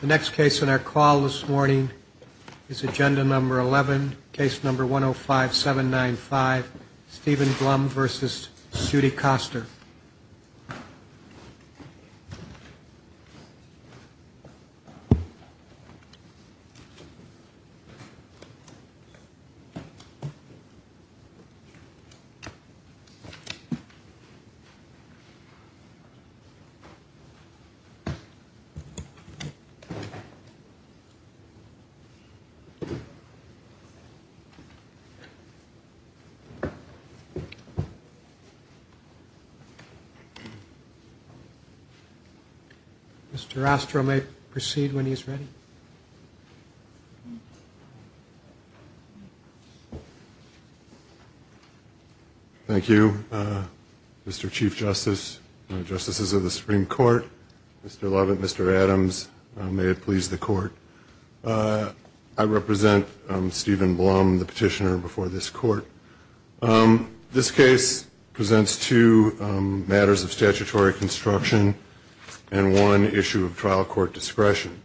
The next case in our call this morning is Agenda Number 11, Case Number 105795, Stephen Blum v. Judy Koster. Mr. Astrow may proceed when he is ready. Thank you, Mr. Chief Justice, Justices of the Supreme Court, Mr. Lovett, Mr. Adams. May it please the Court. I represent Stephen Blum, the petitioner before this Court. This case presents two matters of statutory construction and one issue of trial court discretion.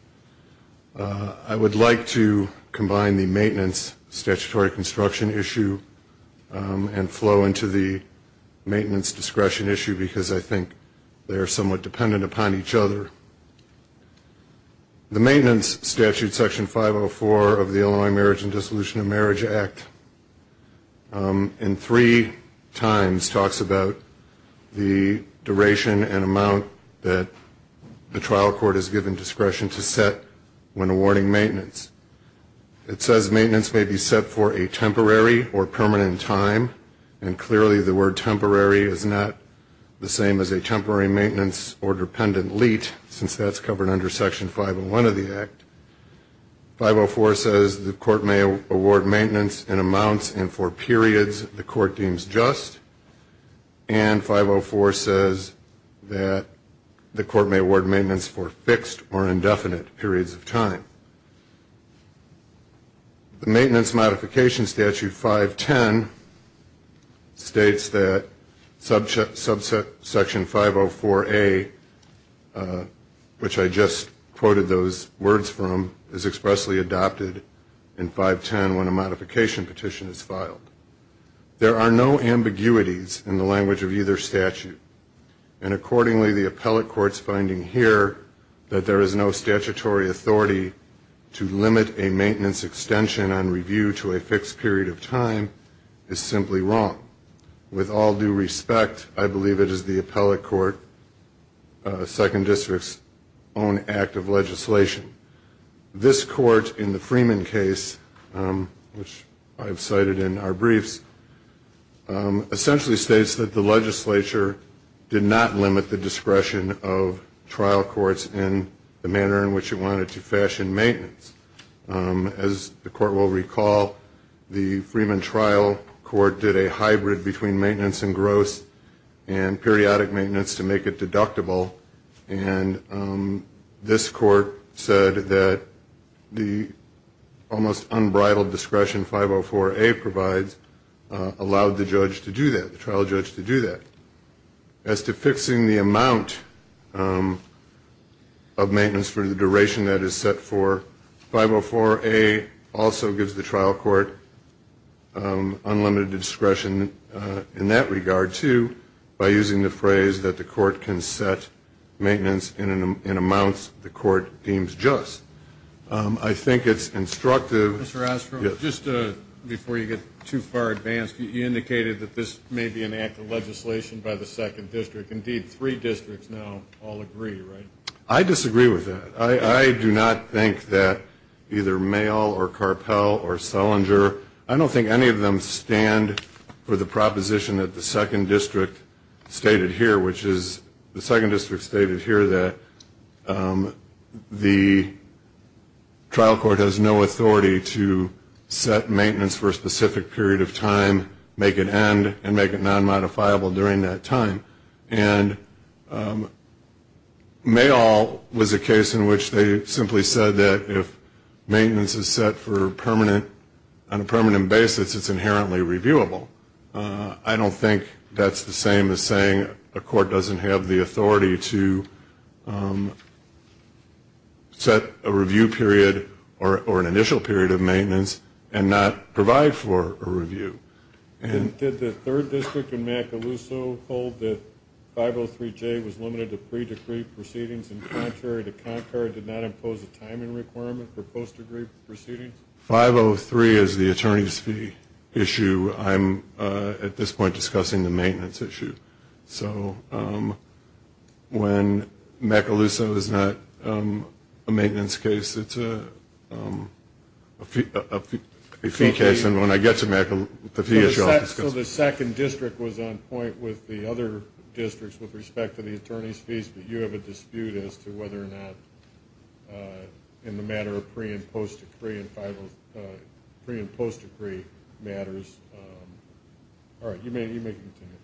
I would like to combine the maintenance statutory construction issue and flow into the maintenance discretion issue because I think they are somewhat dependent upon each other. The maintenance statute, Section 504 of the Illinois Marriage and Dissolution of Marriage Act, and three times talks about the duration and amount that the trial court is given discretion to set when awarding maintenance. It says maintenance may be set for a temporary or permanent time, and clearly the word temporary is not the same as a temporary maintenance or dependent leet since that's covered under Section 501 of the Act. 504 says the court may award maintenance in amounts and for periods the court deems just, and 504 says that the court may award maintenance for fixed or indefinite periods of time. The maintenance modification statute, 510, states that subsection 504A, which I just quoted those words from, is expressly adopted in 510 when a modification petition is filed. There are no ambiguities in the language of either statute, and accordingly the appellate court's finding here that there is no statutory authority to limit a maintenance extension on review to a fixed period of time is simply wrong. With all due respect, I believe it is the appellate court, Second District's own act of legislation. This court in the Freeman case, which I've cited in our briefs, essentially states that the legislature did not limit the discretion of trial courts in the manner in which it wanted to fashion maintenance. As the court will recall, the Freeman trial court did a hybrid between maintenance and gross and periodic maintenance to make it deductible, and this court said that the almost unbridled discretion 504A provides allowed the judge to do that, the trial judge to do that. As to fixing the amount of maintenance for the duration that is set for, 504A also gives the trial court unlimited discretion in that regard, too, by using the phrase that the court can set maintenance in amounts the court deems just. I think it's instructive. Mr. Ostroff, just before you get too far advanced, you indicated that this may be an act of legislation by the Second District. Indeed, three districts now all agree, right? I disagree with that. I do not think that either Mayall or Carpell or Salinger, I don't think any of them stand for the proposition that the Second District stated here, which is the Second District stated here that the trial court has no authority to set maintenance for a specific period of time, make it end, and make it non-modifiable during that time. And Mayall was a case in which they simply said that if maintenance is set on a permanent basis, it's inherently reviewable. I don't think that's the same as saying a court doesn't have the authority to set a review period or an initial period of maintenance and not provide for a review. Did the Third District in Macaluso hold that 503J was limited to pre-decree proceedings and contrary to Concord, did not impose a timing requirement for post-decree proceedings? 503 is the attorney's fee issue. I'm at this point discussing the maintenance issue. So when Macaluso is not a maintenance case, it's a fee case. And when I get to the fee issue, I'll discuss it. So the Second District was on point with the other districts with respect to the attorney's fees, but you have a dispute as to whether or not in the matter of pre- and post-decree matters. All right. You may continue.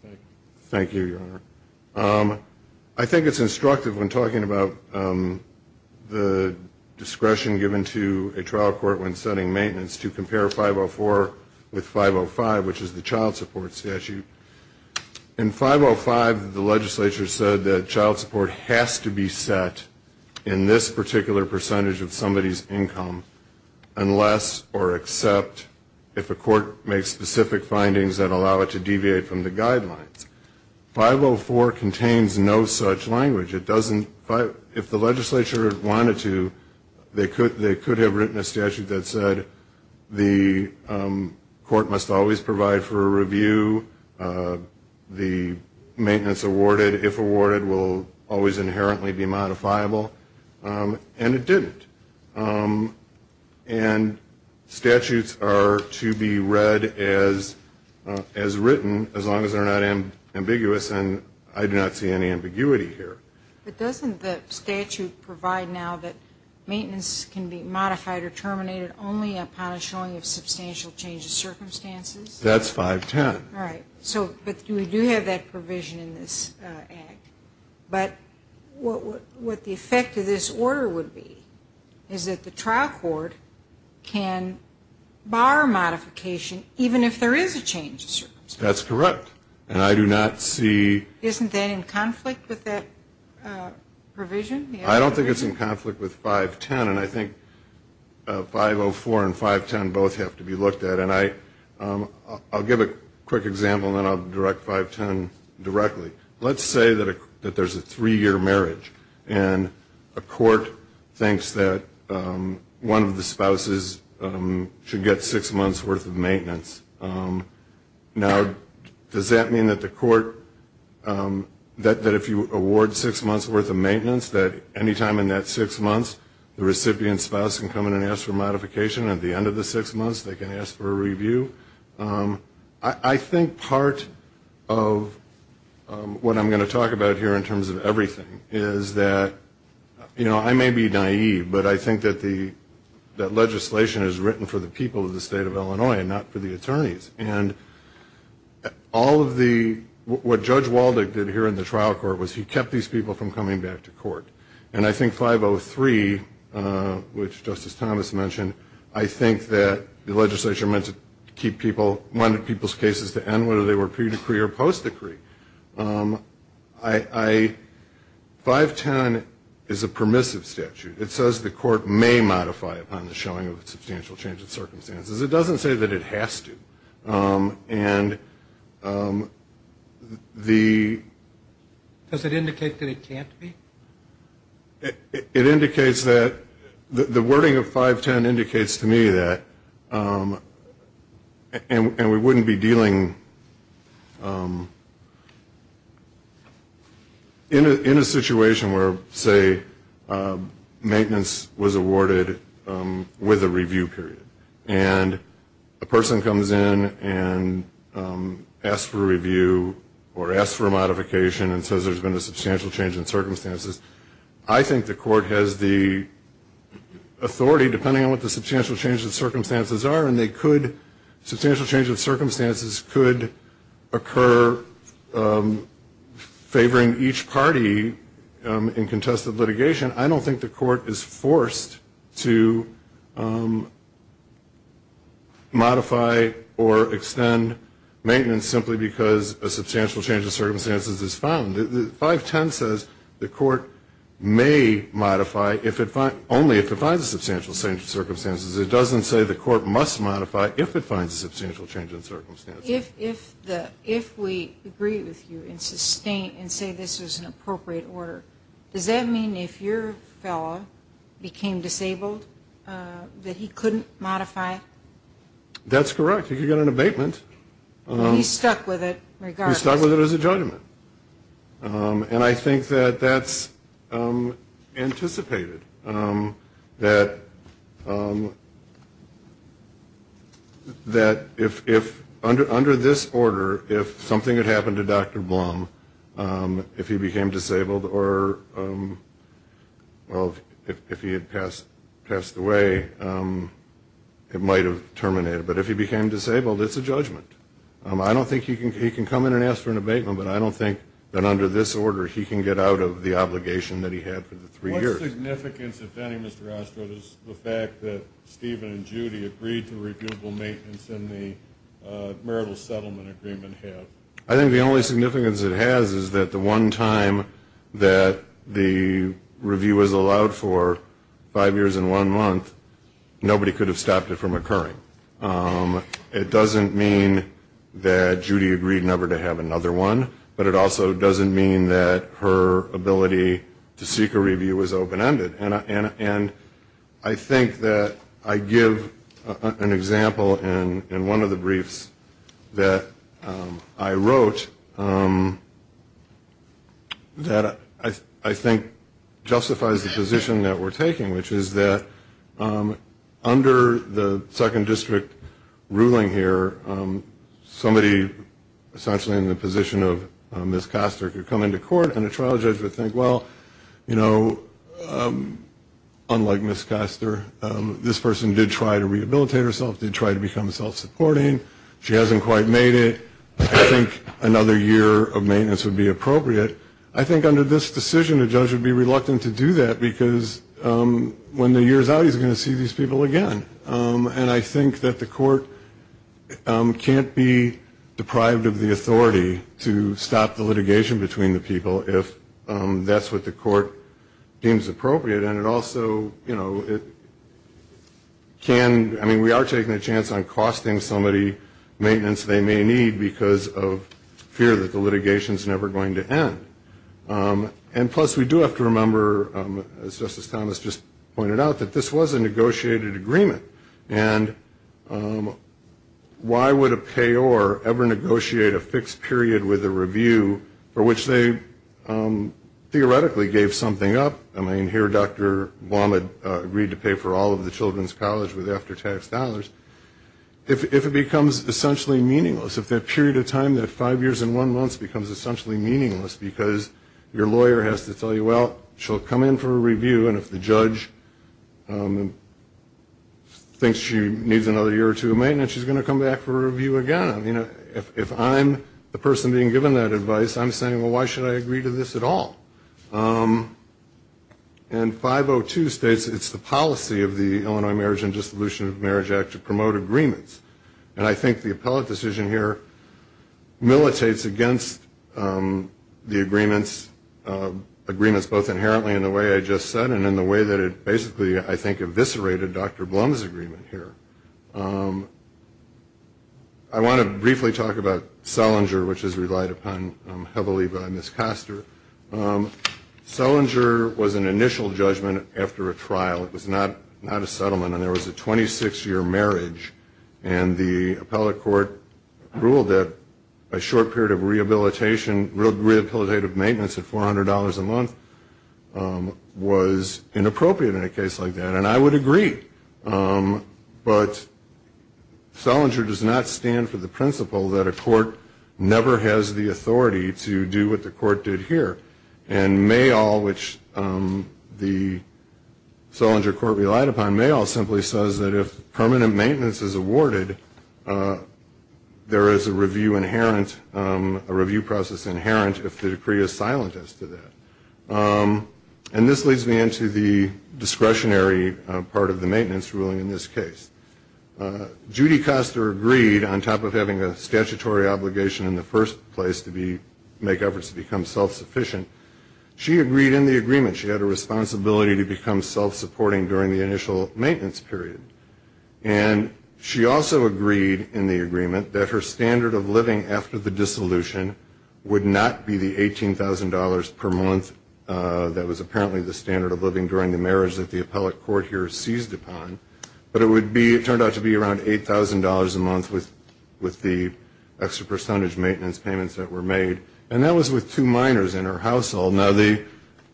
Thank you. Thank you, Your Honor. I think it's instructive when talking about the discretion given to a trial court when setting maintenance to compare 504 with 505, which is the child support statute. In 505, the legislature said that child support has to be set in this particular percentage of somebody's income unless or except if a court makes specific findings that allow it to deviate from the guidelines. 504 contains no such language. If the legislature wanted to, they could have written a statute that said the court must always provide for a review, the maintenance awarded, if awarded, will always inherently be modifiable. And it didn't. And statutes are to be read as written as long as they're not ambiguous, and I do not see any ambiguity here. But doesn't the statute provide now that maintenance can be modified or terminated only upon a showing of substantial change of circumstances? That's 510. All right. But we do have that provision in this act. But what the effect of this order would be is that the trial court can bar modification, even if there is a change of circumstances. That's correct. And I do not see. Isn't that in conflict with that provision? I don't think it's in conflict with 510. And I think 504 and 510 both have to be looked at. And I'll give a quick example and then I'll direct 510 directly. Let's say that there's a three-year marriage and a court thinks that one of the spouses should get six months' worth of maintenance. Now, does that mean that the court, that if you award six months' worth of maintenance, that any time in that six months the recipient spouse can come in and ask for modification? At the end of the six months they can ask for a review? I think part of what I'm going to talk about here in terms of everything is that, you know, I may be naive, but I think that legislation is written for the people of the state of Illinois and not for the attorneys. And all of the, what Judge Waldick did here in the trial court was he kept these people from coming back to court. And I think 503, which Justice Thomas mentioned, I think that the legislature meant to keep people, wanted people's cases to end, whether they were pre-decree or post-decree. I, 510 is a permissive statute. It says the court may modify upon the showing of substantial change in circumstances. It doesn't say that it has to. Does it indicate that it can't be? It indicates that, the wording of 510 indicates to me that, and we wouldn't be dealing, in a situation where, say, maintenance was awarded with a review period. And a person comes in and asks for a review or asks for a modification and says there's been a substantial change in circumstances, I think the court has the authority, depending on what the substantial change in circumstances are, and they could, substantial change in circumstances could occur favoring each party in contested litigation. I don't think the court is forced to modify or extend maintenance simply because a substantial change in circumstances is found. 510 says the court may modify only if it finds a substantial change in circumstances. It doesn't say the court must modify if it finds a substantial change in circumstances. If we agree with you and say this is an appropriate order, does that mean if your fellow became disabled that he couldn't modify? That's correct. He could get an abatement. And he's stuck with it regardless. He's stuck with it as a judgment. And I think that that's anticipated. That if under this order, if something had happened to Dr. Blum, if he became disabled or, well, if he had passed away, it might have terminated. But if he became disabled, it's a judgment. I don't think he can come in and ask for an abatement, but I don't think that under this order he can get out of the obligation that he had for the three years. What significance, if any, Mr. Ostrow, does the fact that Steven and Judy agreed to reviewable maintenance in the marital settlement agreement have? I think the only significance it has is that the one time that the review was allowed for, five years and one month, nobody could have stopped it from occurring. It doesn't mean that Judy agreed never to have another one, but it also doesn't mean that her ability to seek a review was open-ended. And I think that I give an example in one of the briefs that I wrote that I think justifies the position that we're taking, which is that under the second district ruling here, somebody essentially in the position of Ms. Koster could come into court and a trial judge would think, well, you know, unlike Ms. Koster, this person did try to rehabilitate herself, did try to become self-supporting. She hasn't quite made it. I think another year of maintenance would be appropriate. But I think under this decision, a judge would be reluctant to do that because when the year's out, he's going to see these people again. And I think that the court can't be deprived of the authority to stop the litigation between the people if that's what the court deems appropriate. And it also, you know, it can, I mean, we are taking a chance on costing somebody maintenance they may need because of fear that the litigation's never going to end. And plus we do have to remember, as Justice Thomas just pointed out, that this was a negotiated agreement. And why would a payor ever negotiate a fixed period with a review for which they theoretically gave something up? I mean, here Dr. Womad agreed to pay for all of the children's college with after-tax dollars. If it becomes essentially meaningless, if that period of time, that five years and one month becomes essentially meaningless because your lawyer has to tell you, well, she'll come in for a review, and if the judge thinks she needs another year or two of maintenance, she's going to come back for a review again. If I'm the person being given that advice, I'm saying, well, why should I agree to this at all? And 502 states it's the policy of the Illinois Marriage and Dissolution of Marriage Act to promote agreements. And I think the appellate decision here militates against the agreements, agreements both inherently in the way I just said and in the way that it basically, I think, eviscerated Dr. Blum's agreement here. I want to briefly talk about Selinger, which is relied upon heavily by Ms. Koster. Selinger was an initial judgment after a trial. It was not a settlement, and there was a 26-year marriage. And the appellate court ruled that a short period of rehabilitation, real rehabilitative maintenance at $400 a month was inappropriate in a case like that. And I would agree, but Selinger does not stand for the principle that a court never has the authority to do what the court did here. And Mayall, which the Selinger court relied upon, Mayall simply says that if permanent maintenance is awarded, there is a review process inherent if the decree is silent as to that. And this leads me into the discretionary part of the maintenance ruling in this case. Judy Koster agreed, on top of having a statutory obligation in the first place to make efforts to become self-sufficient, she agreed in the agreement she had a responsibility to become self-supporting during the initial maintenance period. And she also agreed in the agreement that her standard of living after the dissolution would not be the $18,000 per month that was apparently the standard of living during the marriage that the appellate court here seized upon, but it turned out to be around $8,000 a month with the extra percentage maintenance payments that were made. And that was with two minors in her household. Now, the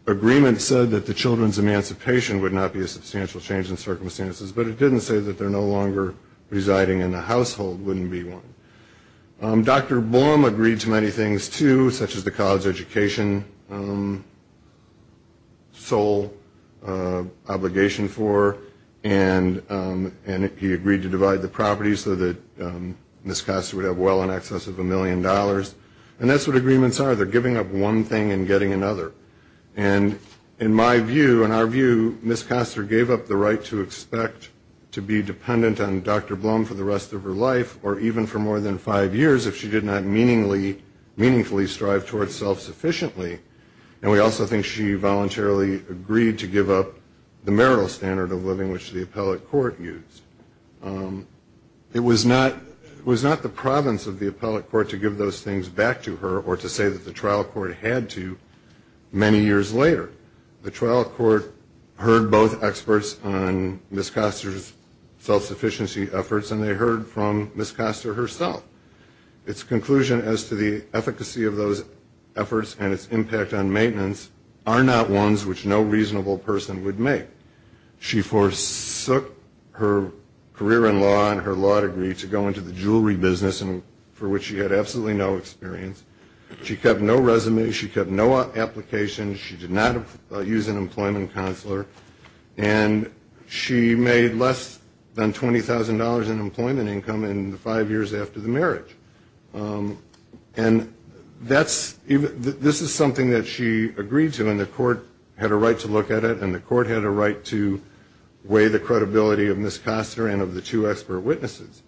agreement said that the children's emancipation would not be a substantial change in circumstances, but it didn't say that they're no longer residing in a household wouldn't be one. Dr. Blum agreed to many things, too, such as the college education sole obligation for, and he agreed to divide the property so that Ms. Koster would have well in excess of a million dollars. And that's what agreements are, they're giving up one thing and getting another. And in my view, in our view, Ms. Koster gave up the right to expect to be dependent on Dr. Blum for the rest of her life or even for more than five years if she did not meaningfully strive toward self-sufficiently. And we also think she voluntarily agreed to give up the marital standard of living which the appellate court used. It was not the province of the appellate court to give those things back to her or to say that the trial court had to many years later. The trial court heard both experts on Ms. Koster's self-sufficiency efforts and they heard from Ms. Koster herself. Its conclusion as to the efficacy of those efforts and its impact on maintenance are not ones which no reasonable person would make. She forsook her career in law and her law degree to go into the jewelry business for which she had absolutely no experience. She kept no resume, she kept no applications, she did not use an employment counselor, and she made less than $20,000 in employment income in the five years after the marriage. And this is something that she agreed to, and the court had a right to look at it, and the court had a right to weigh the credibility of Ms. Koster and of the two expert witnesses.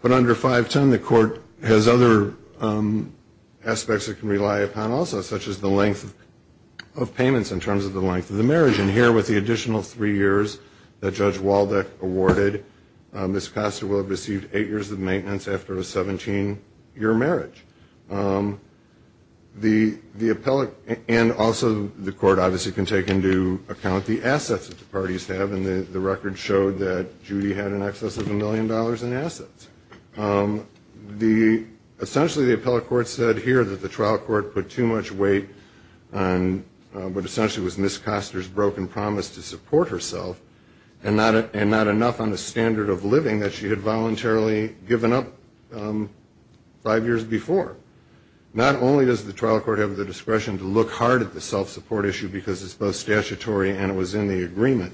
But under 510, the court has other aspects it can rely upon also such as the length of payments in terms of the length of the marriage. And here with the additional three years that Judge Waldeck awarded, Ms. Koster will have received eight years of maintenance after a 17-year marriage. The appellate, and also the court obviously can take into account the assets that the parties have, and the record showed that Judy had in excess of a million dollars in assets. Essentially the appellate court said here that the trial court put too much weight on what essentially was Ms. Koster's broken promise to support herself, and not enough on the standard of living that she had voluntarily given up five years before. Not only does the trial court have the discretion to look hard at the self-support issue because it's both statutory and it was in the agreement,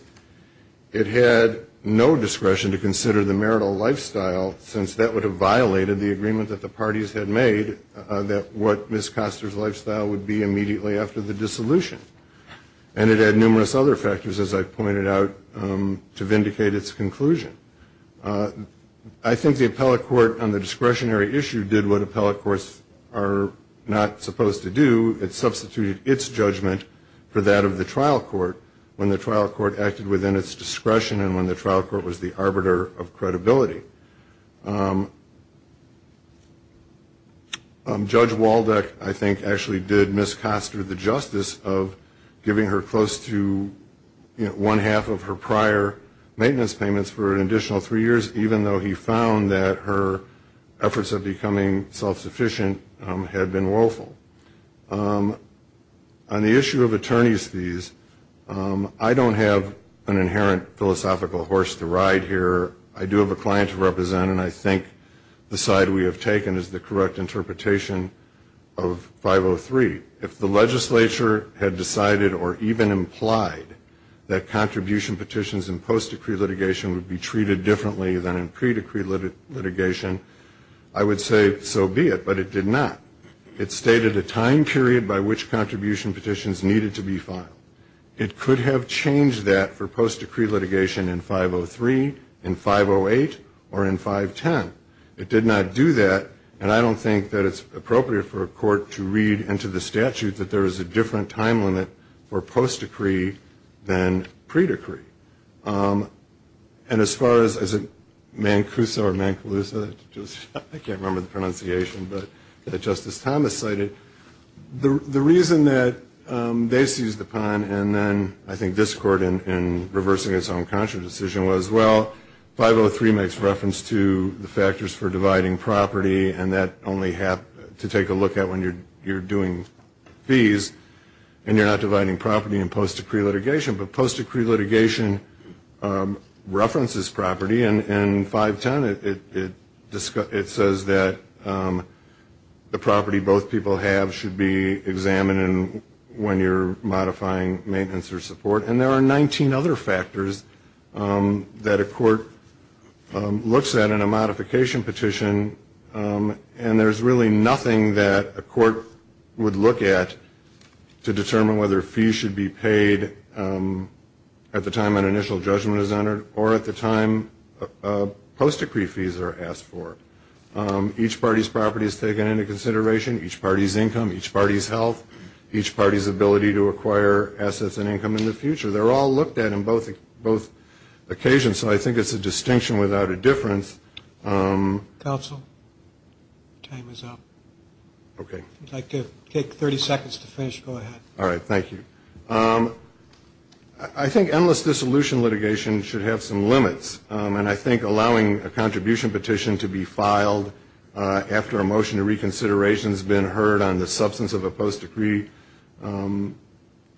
it had no discretion to consider the marital lifestyle since that would have violated the agreement that the parties had made that what Ms. Koster's lifestyle would be immediately after the dissolution. And it had numerous other factors, as I pointed out, to vindicate its conclusion. I think the appellate court on the discretionary issue did what appellate courts are not supposed to do. It substituted its judgment for that of the trial court when the trial court acted within its discretion and when the trial court was the arbiter of credibility. Judge Waldeck, I think, actually did Ms. Koster the justice of giving her close to, you know, more than half of her prior maintenance payments for an additional three years, even though he found that her efforts of becoming self-sufficient had been woeful. On the issue of attorney's fees, I don't have an inherent philosophical horse to ride here. I do have a client to represent, and I think the side we have taken is the correct interpretation of 503. If the legislature had decided or even implied that contribution petitions in post-decree litigation would be treated differently than in pre-decree litigation, I would say so be it, but it did not. It stated a time period by which contribution petitions needed to be filed. It could have changed that for post-decree litigation in 503, in 508, or in 510. It did not do that, and I don't think that it's appropriate for a court to read into the statute that there is a different time limit for post-decree than pre-decree. And as far as Mancuso or Mancuso, I can't remember the pronunciation, but that Justice Thomas cited, the reason that they seized the pun and then I think this court in reversing its own conscious decision was, well, 503 makes reference to the factors for dividing property, and that only to take a look at when you're doing fees, and you're not dividing property in post-decree litigation, but post-decree litigation references property. In 510, it says that the property both people have should be examined when you're modifying maintenance or support, and there are 19 other factors that a court looks at in a modification petition, and there's really nothing that a court would look at to determine whether fees should be paid at the time an initial judgment is entered, or at the time post-decree fees are asked for. Each party's property is taken into consideration, each party's income, each party's health, each party's ability to acquire assets and income in the future. They're all looked at in both occasions, so I think it's a distinction without a difference. Counsel, time is up. Okay. If you'd like to take 30 seconds to finish, go ahead. All right, thank you. I think endless dissolution litigation should have some limits, and I think allowing a contribution petition to be filed after a motion of reconsideration has been heard on the substance of a post-decree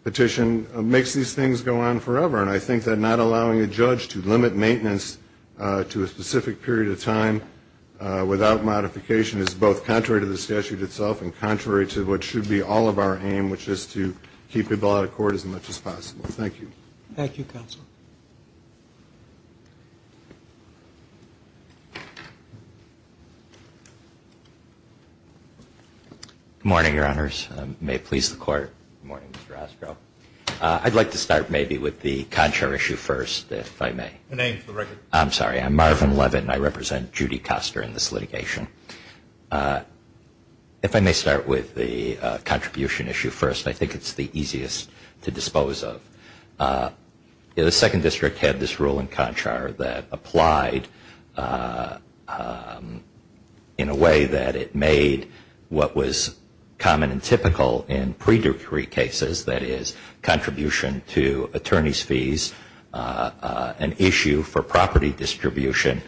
petition makes these things go on forever, and I think that not allowing a judge to limit maintenance to a specific period of time without modification is both contrary to the statute itself and contrary to what should be all of our aim, which is to keep people out of court as much as possible. Thank you. Thank you, Counsel. Good morning, Your Honors. May it please the Court. Good morning, Mr. Ostrow. I'd like to start maybe with the CONCHAR issue first, if I may. I'm sorry, I'm Marvin Levin, and I represent Judy Koster in this litigation. If I may start with the contribution issue first, I think it's the easiest to dispose of. The Second District had this rule in CONCHAR that applied in a way that it made what was common and typical in pre-decree cases, contribution to attorney's fees, an issue for property distribution,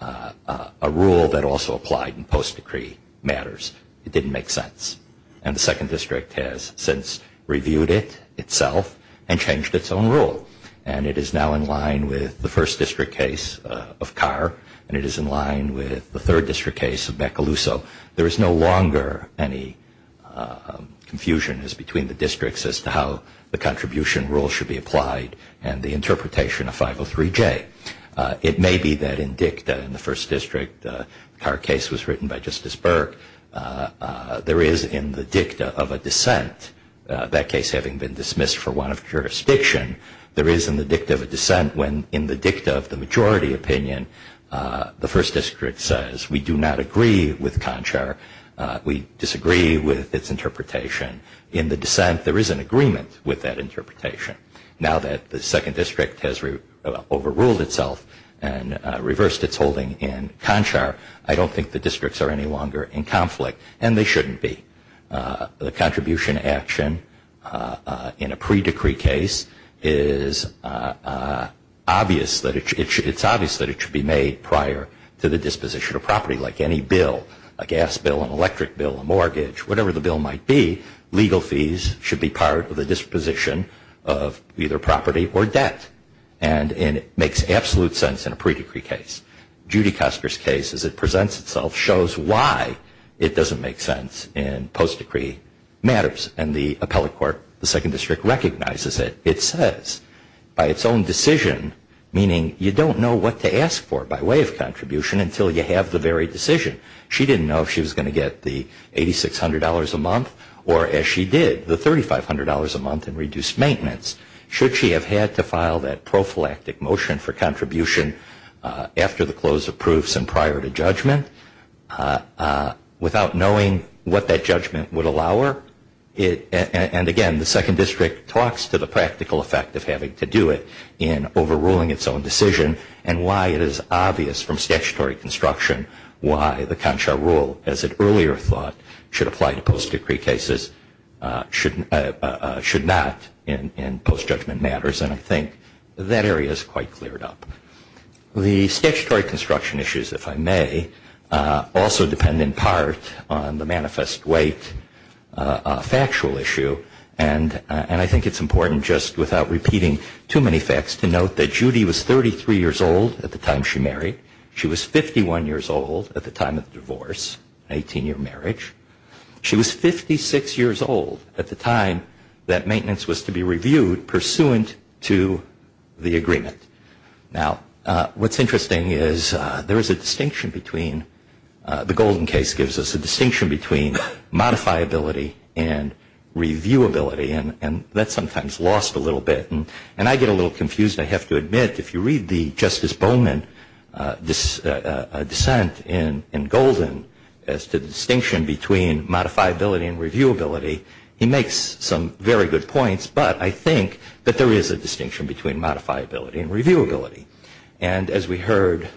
a rule that also applied in post-decree matters. It didn't make sense, and the Second District has since reviewed it itself and changed its own rule, and it is now in line with the First District case of Carr, and it is in line with the Third District case of Macaluso. There is no longer any confusion between the districts as to how the contribution rule should be applied and the interpretation of 503J. It may be that in dicta in the First District, the Carr case was written by Justice Burke. There is in the dicta of a dissent, that case having been dismissed for one of jurisdiction, there is in the dicta of a dissent when in the dicta of the Second District case of CONCHAR, we disagree with its interpretation. In the dissent, there is an agreement with that interpretation. Now that the Second District has overruled itself and reversed its holding in CONCHAR, I don't think the districts are any longer in conflict, and they shouldn't be. The contribution action in a pre-decree case is obvious that it should be made prior to the disposition of property, like any bill. A gas bill, an electric bill, a mortgage, whatever the bill might be, legal fees should be part of the disposition of either property or debt. And it makes absolute sense in a pre-decree case. Judy Custer's case, as it presents itself, shows why it doesn't make sense in post-decree matters. And the appellate court, the Second District, recognizes it. It says, by its own decision, meaning you don't know what to ask for by way of contribution until you have the very decision. She didn't know if she was going to get the $8,600 a month or, as she did, the $3,500 a month in reduced maintenance. Should she have had to file that prophylactic motion for contribution after the close of proofs and prior to judgment without knowing what that judgment would allow her? And again, the Second District talks to the practical effect of having to do it in overruling its own decision and why it is obvious from statutory construction why the concha rule, as it earlier thought, should apply to post-decree cases, should not in post-judgment matters. And I think that area is quite cleared up. The statutory construction issues, if I may, also depend in part on the manifest weight factual issue. And I think it's important, just without repeating too many facts, to note that Judy was 33 years old at the time she married. She was 51 years old at the time of the divorce, 18-year marriage. She was 56 years old at the time that maintenance was to be reviewed pursuant to the agreement. Now, what's interesting is there is a distinction between the Golden case gives us a distinction between modifiability and reviewability. And that's sometimes lost a little bit. And I get a little confused, I have to admit. If you read the Justice Bowman dissent in Golden as to the distinction between modifiability and reviewability, he makes some very good points. But I think that there is a distinction between modifiability and reviewability. And as we heard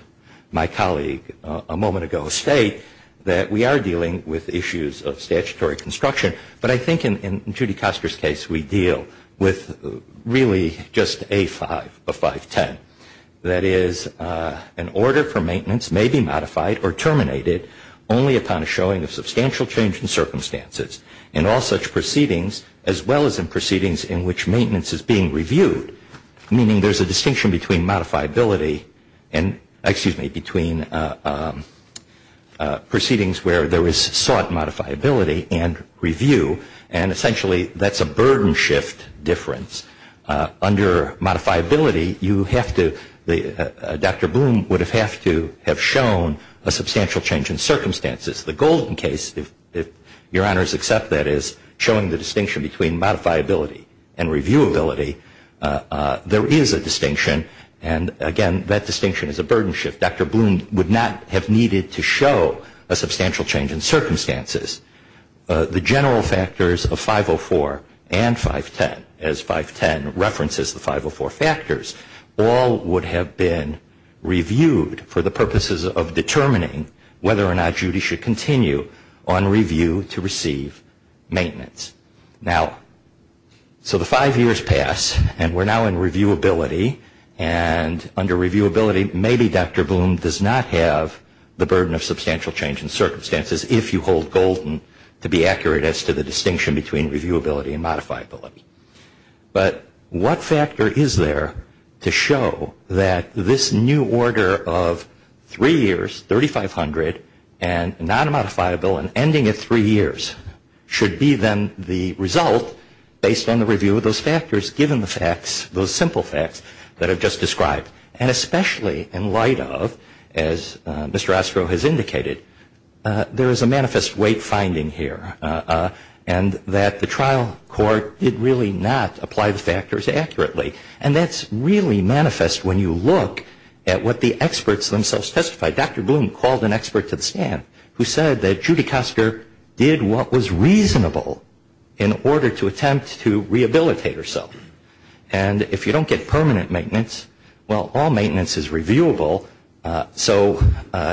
my colleague a moment ago state, that we are dealing with issues of statutory construction. But I think in Judy Koster's case we deal with really just A5 of 510. That is, an order for maintenance may be modified or terminated only upon a showing of substantial change in circumstances. And all such proceedings, as well as in proceedings in which maintenance is being reviewed, meaning there's a distinction between modifiability and, excuse me, between proceedings where there is sought modifiability and reviewability. And essentially that's a burden shift difference. Under modifiability, you have to, Dr. Bloom would have to have shown a substantial change in circumstances. The Golden case, if your honors accept that, is showing the distinction between modifiability and reviewability. There is a distinction, and again, that distinction is a burden shift. Dr. Bloom would not have needed to show a substantial change in circumstances. The general factors of 504 and 510, as 510 references the 504 factors, all would have been reviewed for the purposes of determining whether or not Judy should continue on review to receive maintenance. Now, so the five years pass, and we're now in reviewability. And under reviewability, maybe Dr. Bloom does not have the burden of substantial change in circumstances, if you hold Golden to be accurate as to the distinction between reviewability and modifiability. But what factor is there to show that this new order of three years, 3,500, and non-modifiability, and ending at three years, should be then the result based on the review of those factors, given the facts, those simple facts that I've just described. And especially in light of, as Mr. Ostro has indicated, there is a manifest weight finding here, and that the trial court did really not apply the factors accurately. And that's really manifest when you look at what the experts themselves testified. Dr. Bloom called an expert to the stand who said that Judy Custer did what was reasonable in order to attempt to rehabilitate herself. And if you don't get permanent maintenance, well, all maintenance is reviewable. So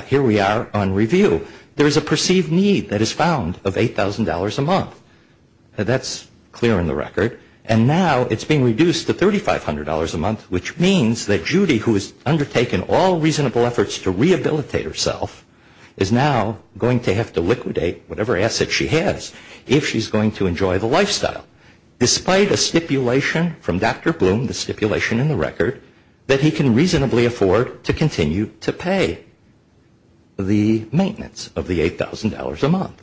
here we are on review. There is a perceived need that is found of $8,000 a month. That's clear in the record. And now it's being reduced to $3,500 a month, which means that Judy, who has undertaken all reasonable efforts to rehabilitate herself, is now going to have to liquidate whatever asset she has if she's going to enjoy the lifestyle, despite a stipulation from Dr. Bloom, the stipulation in the record, that he can reasonably afford to continue to pay the maintenance of the $8,000 a month.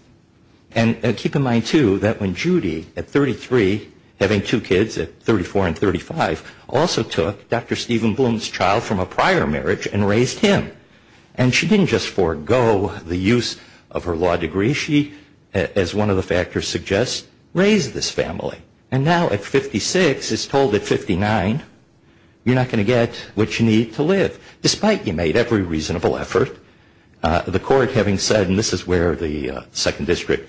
And keep in mind, too, that when Judy, at 33, having two kids at 34 and 35, also took Dr. Stephen Bloom's child from a prior marriage and raised him. And she didn't just forego the use of her law degree. She, as one of the factors suggests, raised this family. And now at 56, it's told at 59, you're not going to get what you need to live, despite you made every reasonable effort. The court having said, and this is where the Second District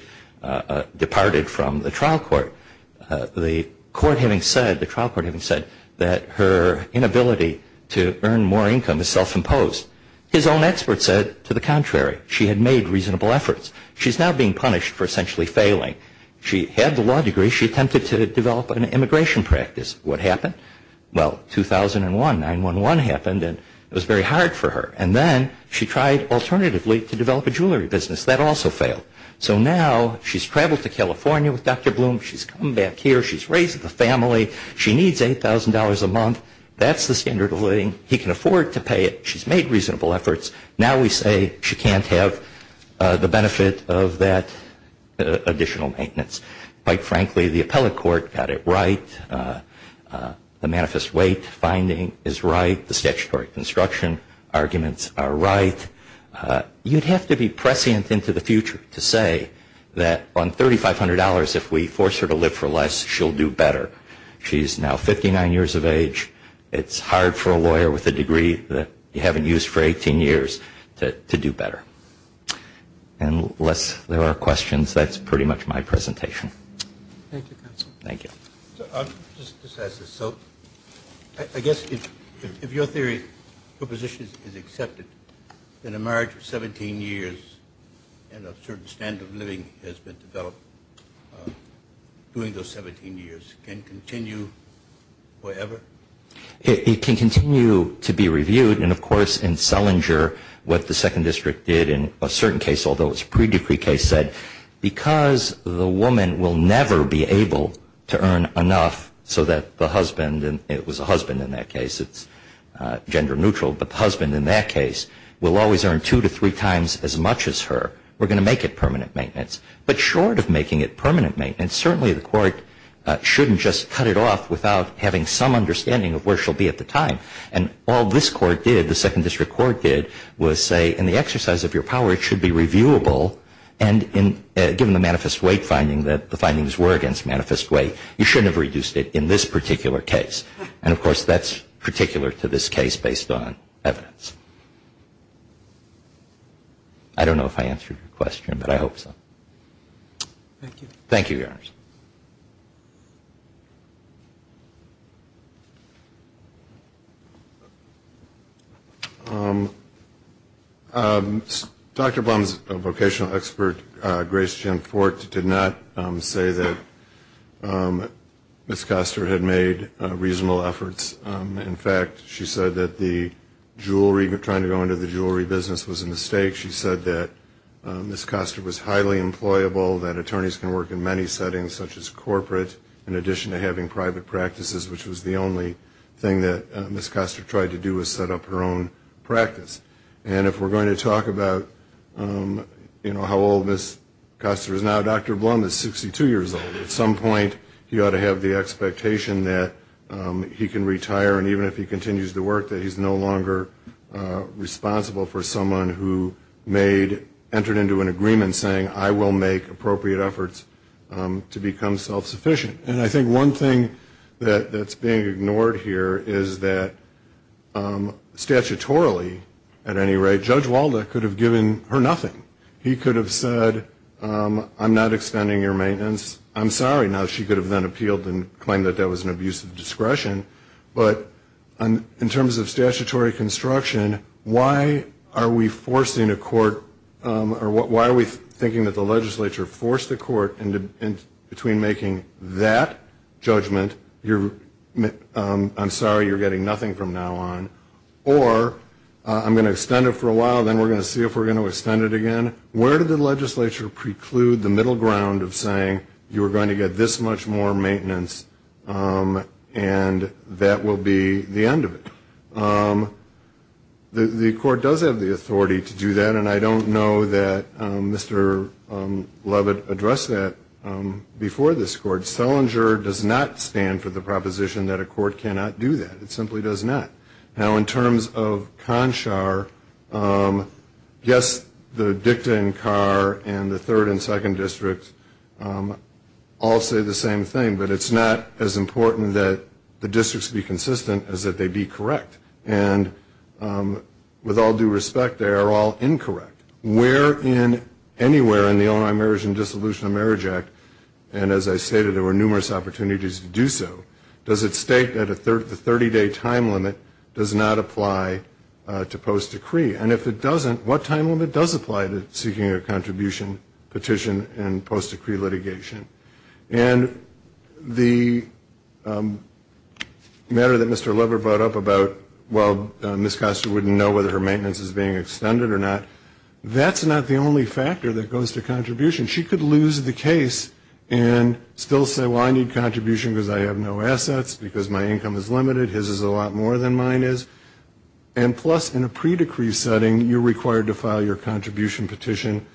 departed from the trial court, the trial court having said that her inability to earn more income is self-imposed, his own expert said to the contrary. She had made reasonable efforts. She's now being punished for essentially failing. She had the law degree. She attempted to develop an immigration practice. What happened? Well, 2001, 9-1-1 happened, and it was very hard for her. And then she tried alternatively to develop a jewelry business. That also failed. So now she's traveled to California with Dr. Bloom. She's come back here. She's raised the family. She needs $8,000 a month. That's the standard of living. He can afford to pay it. She's made reasonable efforts. Now we say she can't have the benefit of that additional maintenance. Quite frankly, the appellate court got it right. The manifest weight finding is right. The statutory construction arguments are right. You'd have to be prescient into the future to say that on $3,500, if we force her to live for less, she'll do better. She's now 59 years of age. It's hard for a lawyer with a degree that you haven't used for 18 years to do better. Unless there are questions, that's pretty much my presentation. Thank you, counsel. Thank you. I'll just ask this. So I guess if your theory, your position is accepted, then a marriage of 17 years and a certain standard of living has been developed, doing those 17 years, can continue forever? It can continue to be reviewed. And, of course, in Selinger, what the Second District did in a certain case, although it's a pre-decree case, said, because the woman will never be able to earn enough so that the husband, and it was a husband in that case, it's gender neutral, but the husband in that case will always earn two to three times as much as her, we're going to make it permanent maintenance. But short of making it permanent maintenance, certainly the court shouldn't just cut it off without having some understanding of where she'll be at the time. And all this court did, the Second District court did, was say, in the exercise of your power, it should be reviewable, and given the manifest weight finding that the findings were against manifest weight, you shouldn't have reduced it in this particular case. And, of course, that's particular to this case based on evidence. I don't know if I answered your question, but I hope so. Thank you. Thank you, Your Honors. Dr. Bum's vocational expert, Grace Jen Fort, did not say that Ms. Koster had made reasonable efforts. In fact, she said that the jewelry, trying to go into the jewelry business was a mistake. She said that Ms. Koster was highly employable, that attorneys can work in many settings such as corporate, in addition to having private practices, which was the only thing that Ms. Koster tried to do was set up her own practice. And if we're going to talk about, you know, how old Ms. Koster is now, Dr. Bum is 62 years old. At some point he ought to have the expectation that he can retire, and even if he continues to work, that he's no longer responsible for someone who entered into an agreement saying, I will make appropriate efforts to become self-sufficient. And I think one thing that's being ignored here is that statutorily, at any rate, Judge Walda could have given her nothing. He could have said, I'm not extending your maintenance. I'm sorry. Now she could have then appealed and claimed that that was an abuse of discretion. But in terms of statutory construction, why are we forcing a court or why are we thinking that the legislature forced the court between making that judgment, I'm sorry, you're getting nothing from now on, or I'm going to extend it for a while, then we're going to see if we're going to extend it again. And where did the legislature preclude the middle ground of saying, you're going to get this much more maintenance and that will be the end of it? The court does have the authority to do that, and I don't know that Mr. Lovett addressed that before this court. Selinger does not stand for the proposition that a court cannot do that. It simply does not. Now in terms of CONSHAR, yes, the dicta in Carr and the third and second districts all say the same thing, but it's not as important that the districts be consistent as that they be correct. And with all due respect, they are all incorrect. Where in anywhere in the Illinois Marriage and Dissolution of Marriage Act, and as I stated, there were numerous opportunities to do so, does it state that the 30-day time limit does not apply to post-decree? And if it doesn't, what time limit does apply to seeking a contribution petition and post-decree litigation? And the matter that Mr. Lovett brought up about, well, Ms. CONSHA wouldn't know whether her maintenance is being extended or not, that's not the only factor that goes to contribution. She could lose the case and still say, well, I need contribution because I have no assets, because my income is limited, his is a lot more than mine is. And plus, in a pre-decree setting, you're required to file your contribution petition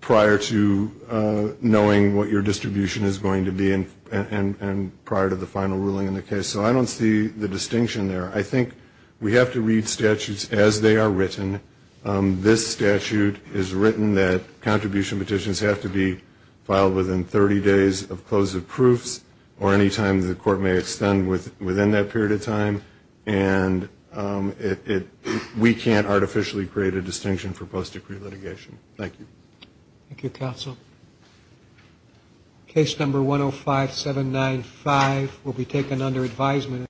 prior to knowing what your distribution is going to be and prior to the final ruling in the case. So I don't see the distinction there. I think we have to read statutes as they are written. This statute is written that contribution petitions have to be filed within 30 days of close of proofs or any time the court may extend within that period of time. And we can't artificially create a distinction for post-decree litigation. Thank you. Thank you, counsel. Case number 105795 will be taken under advisement.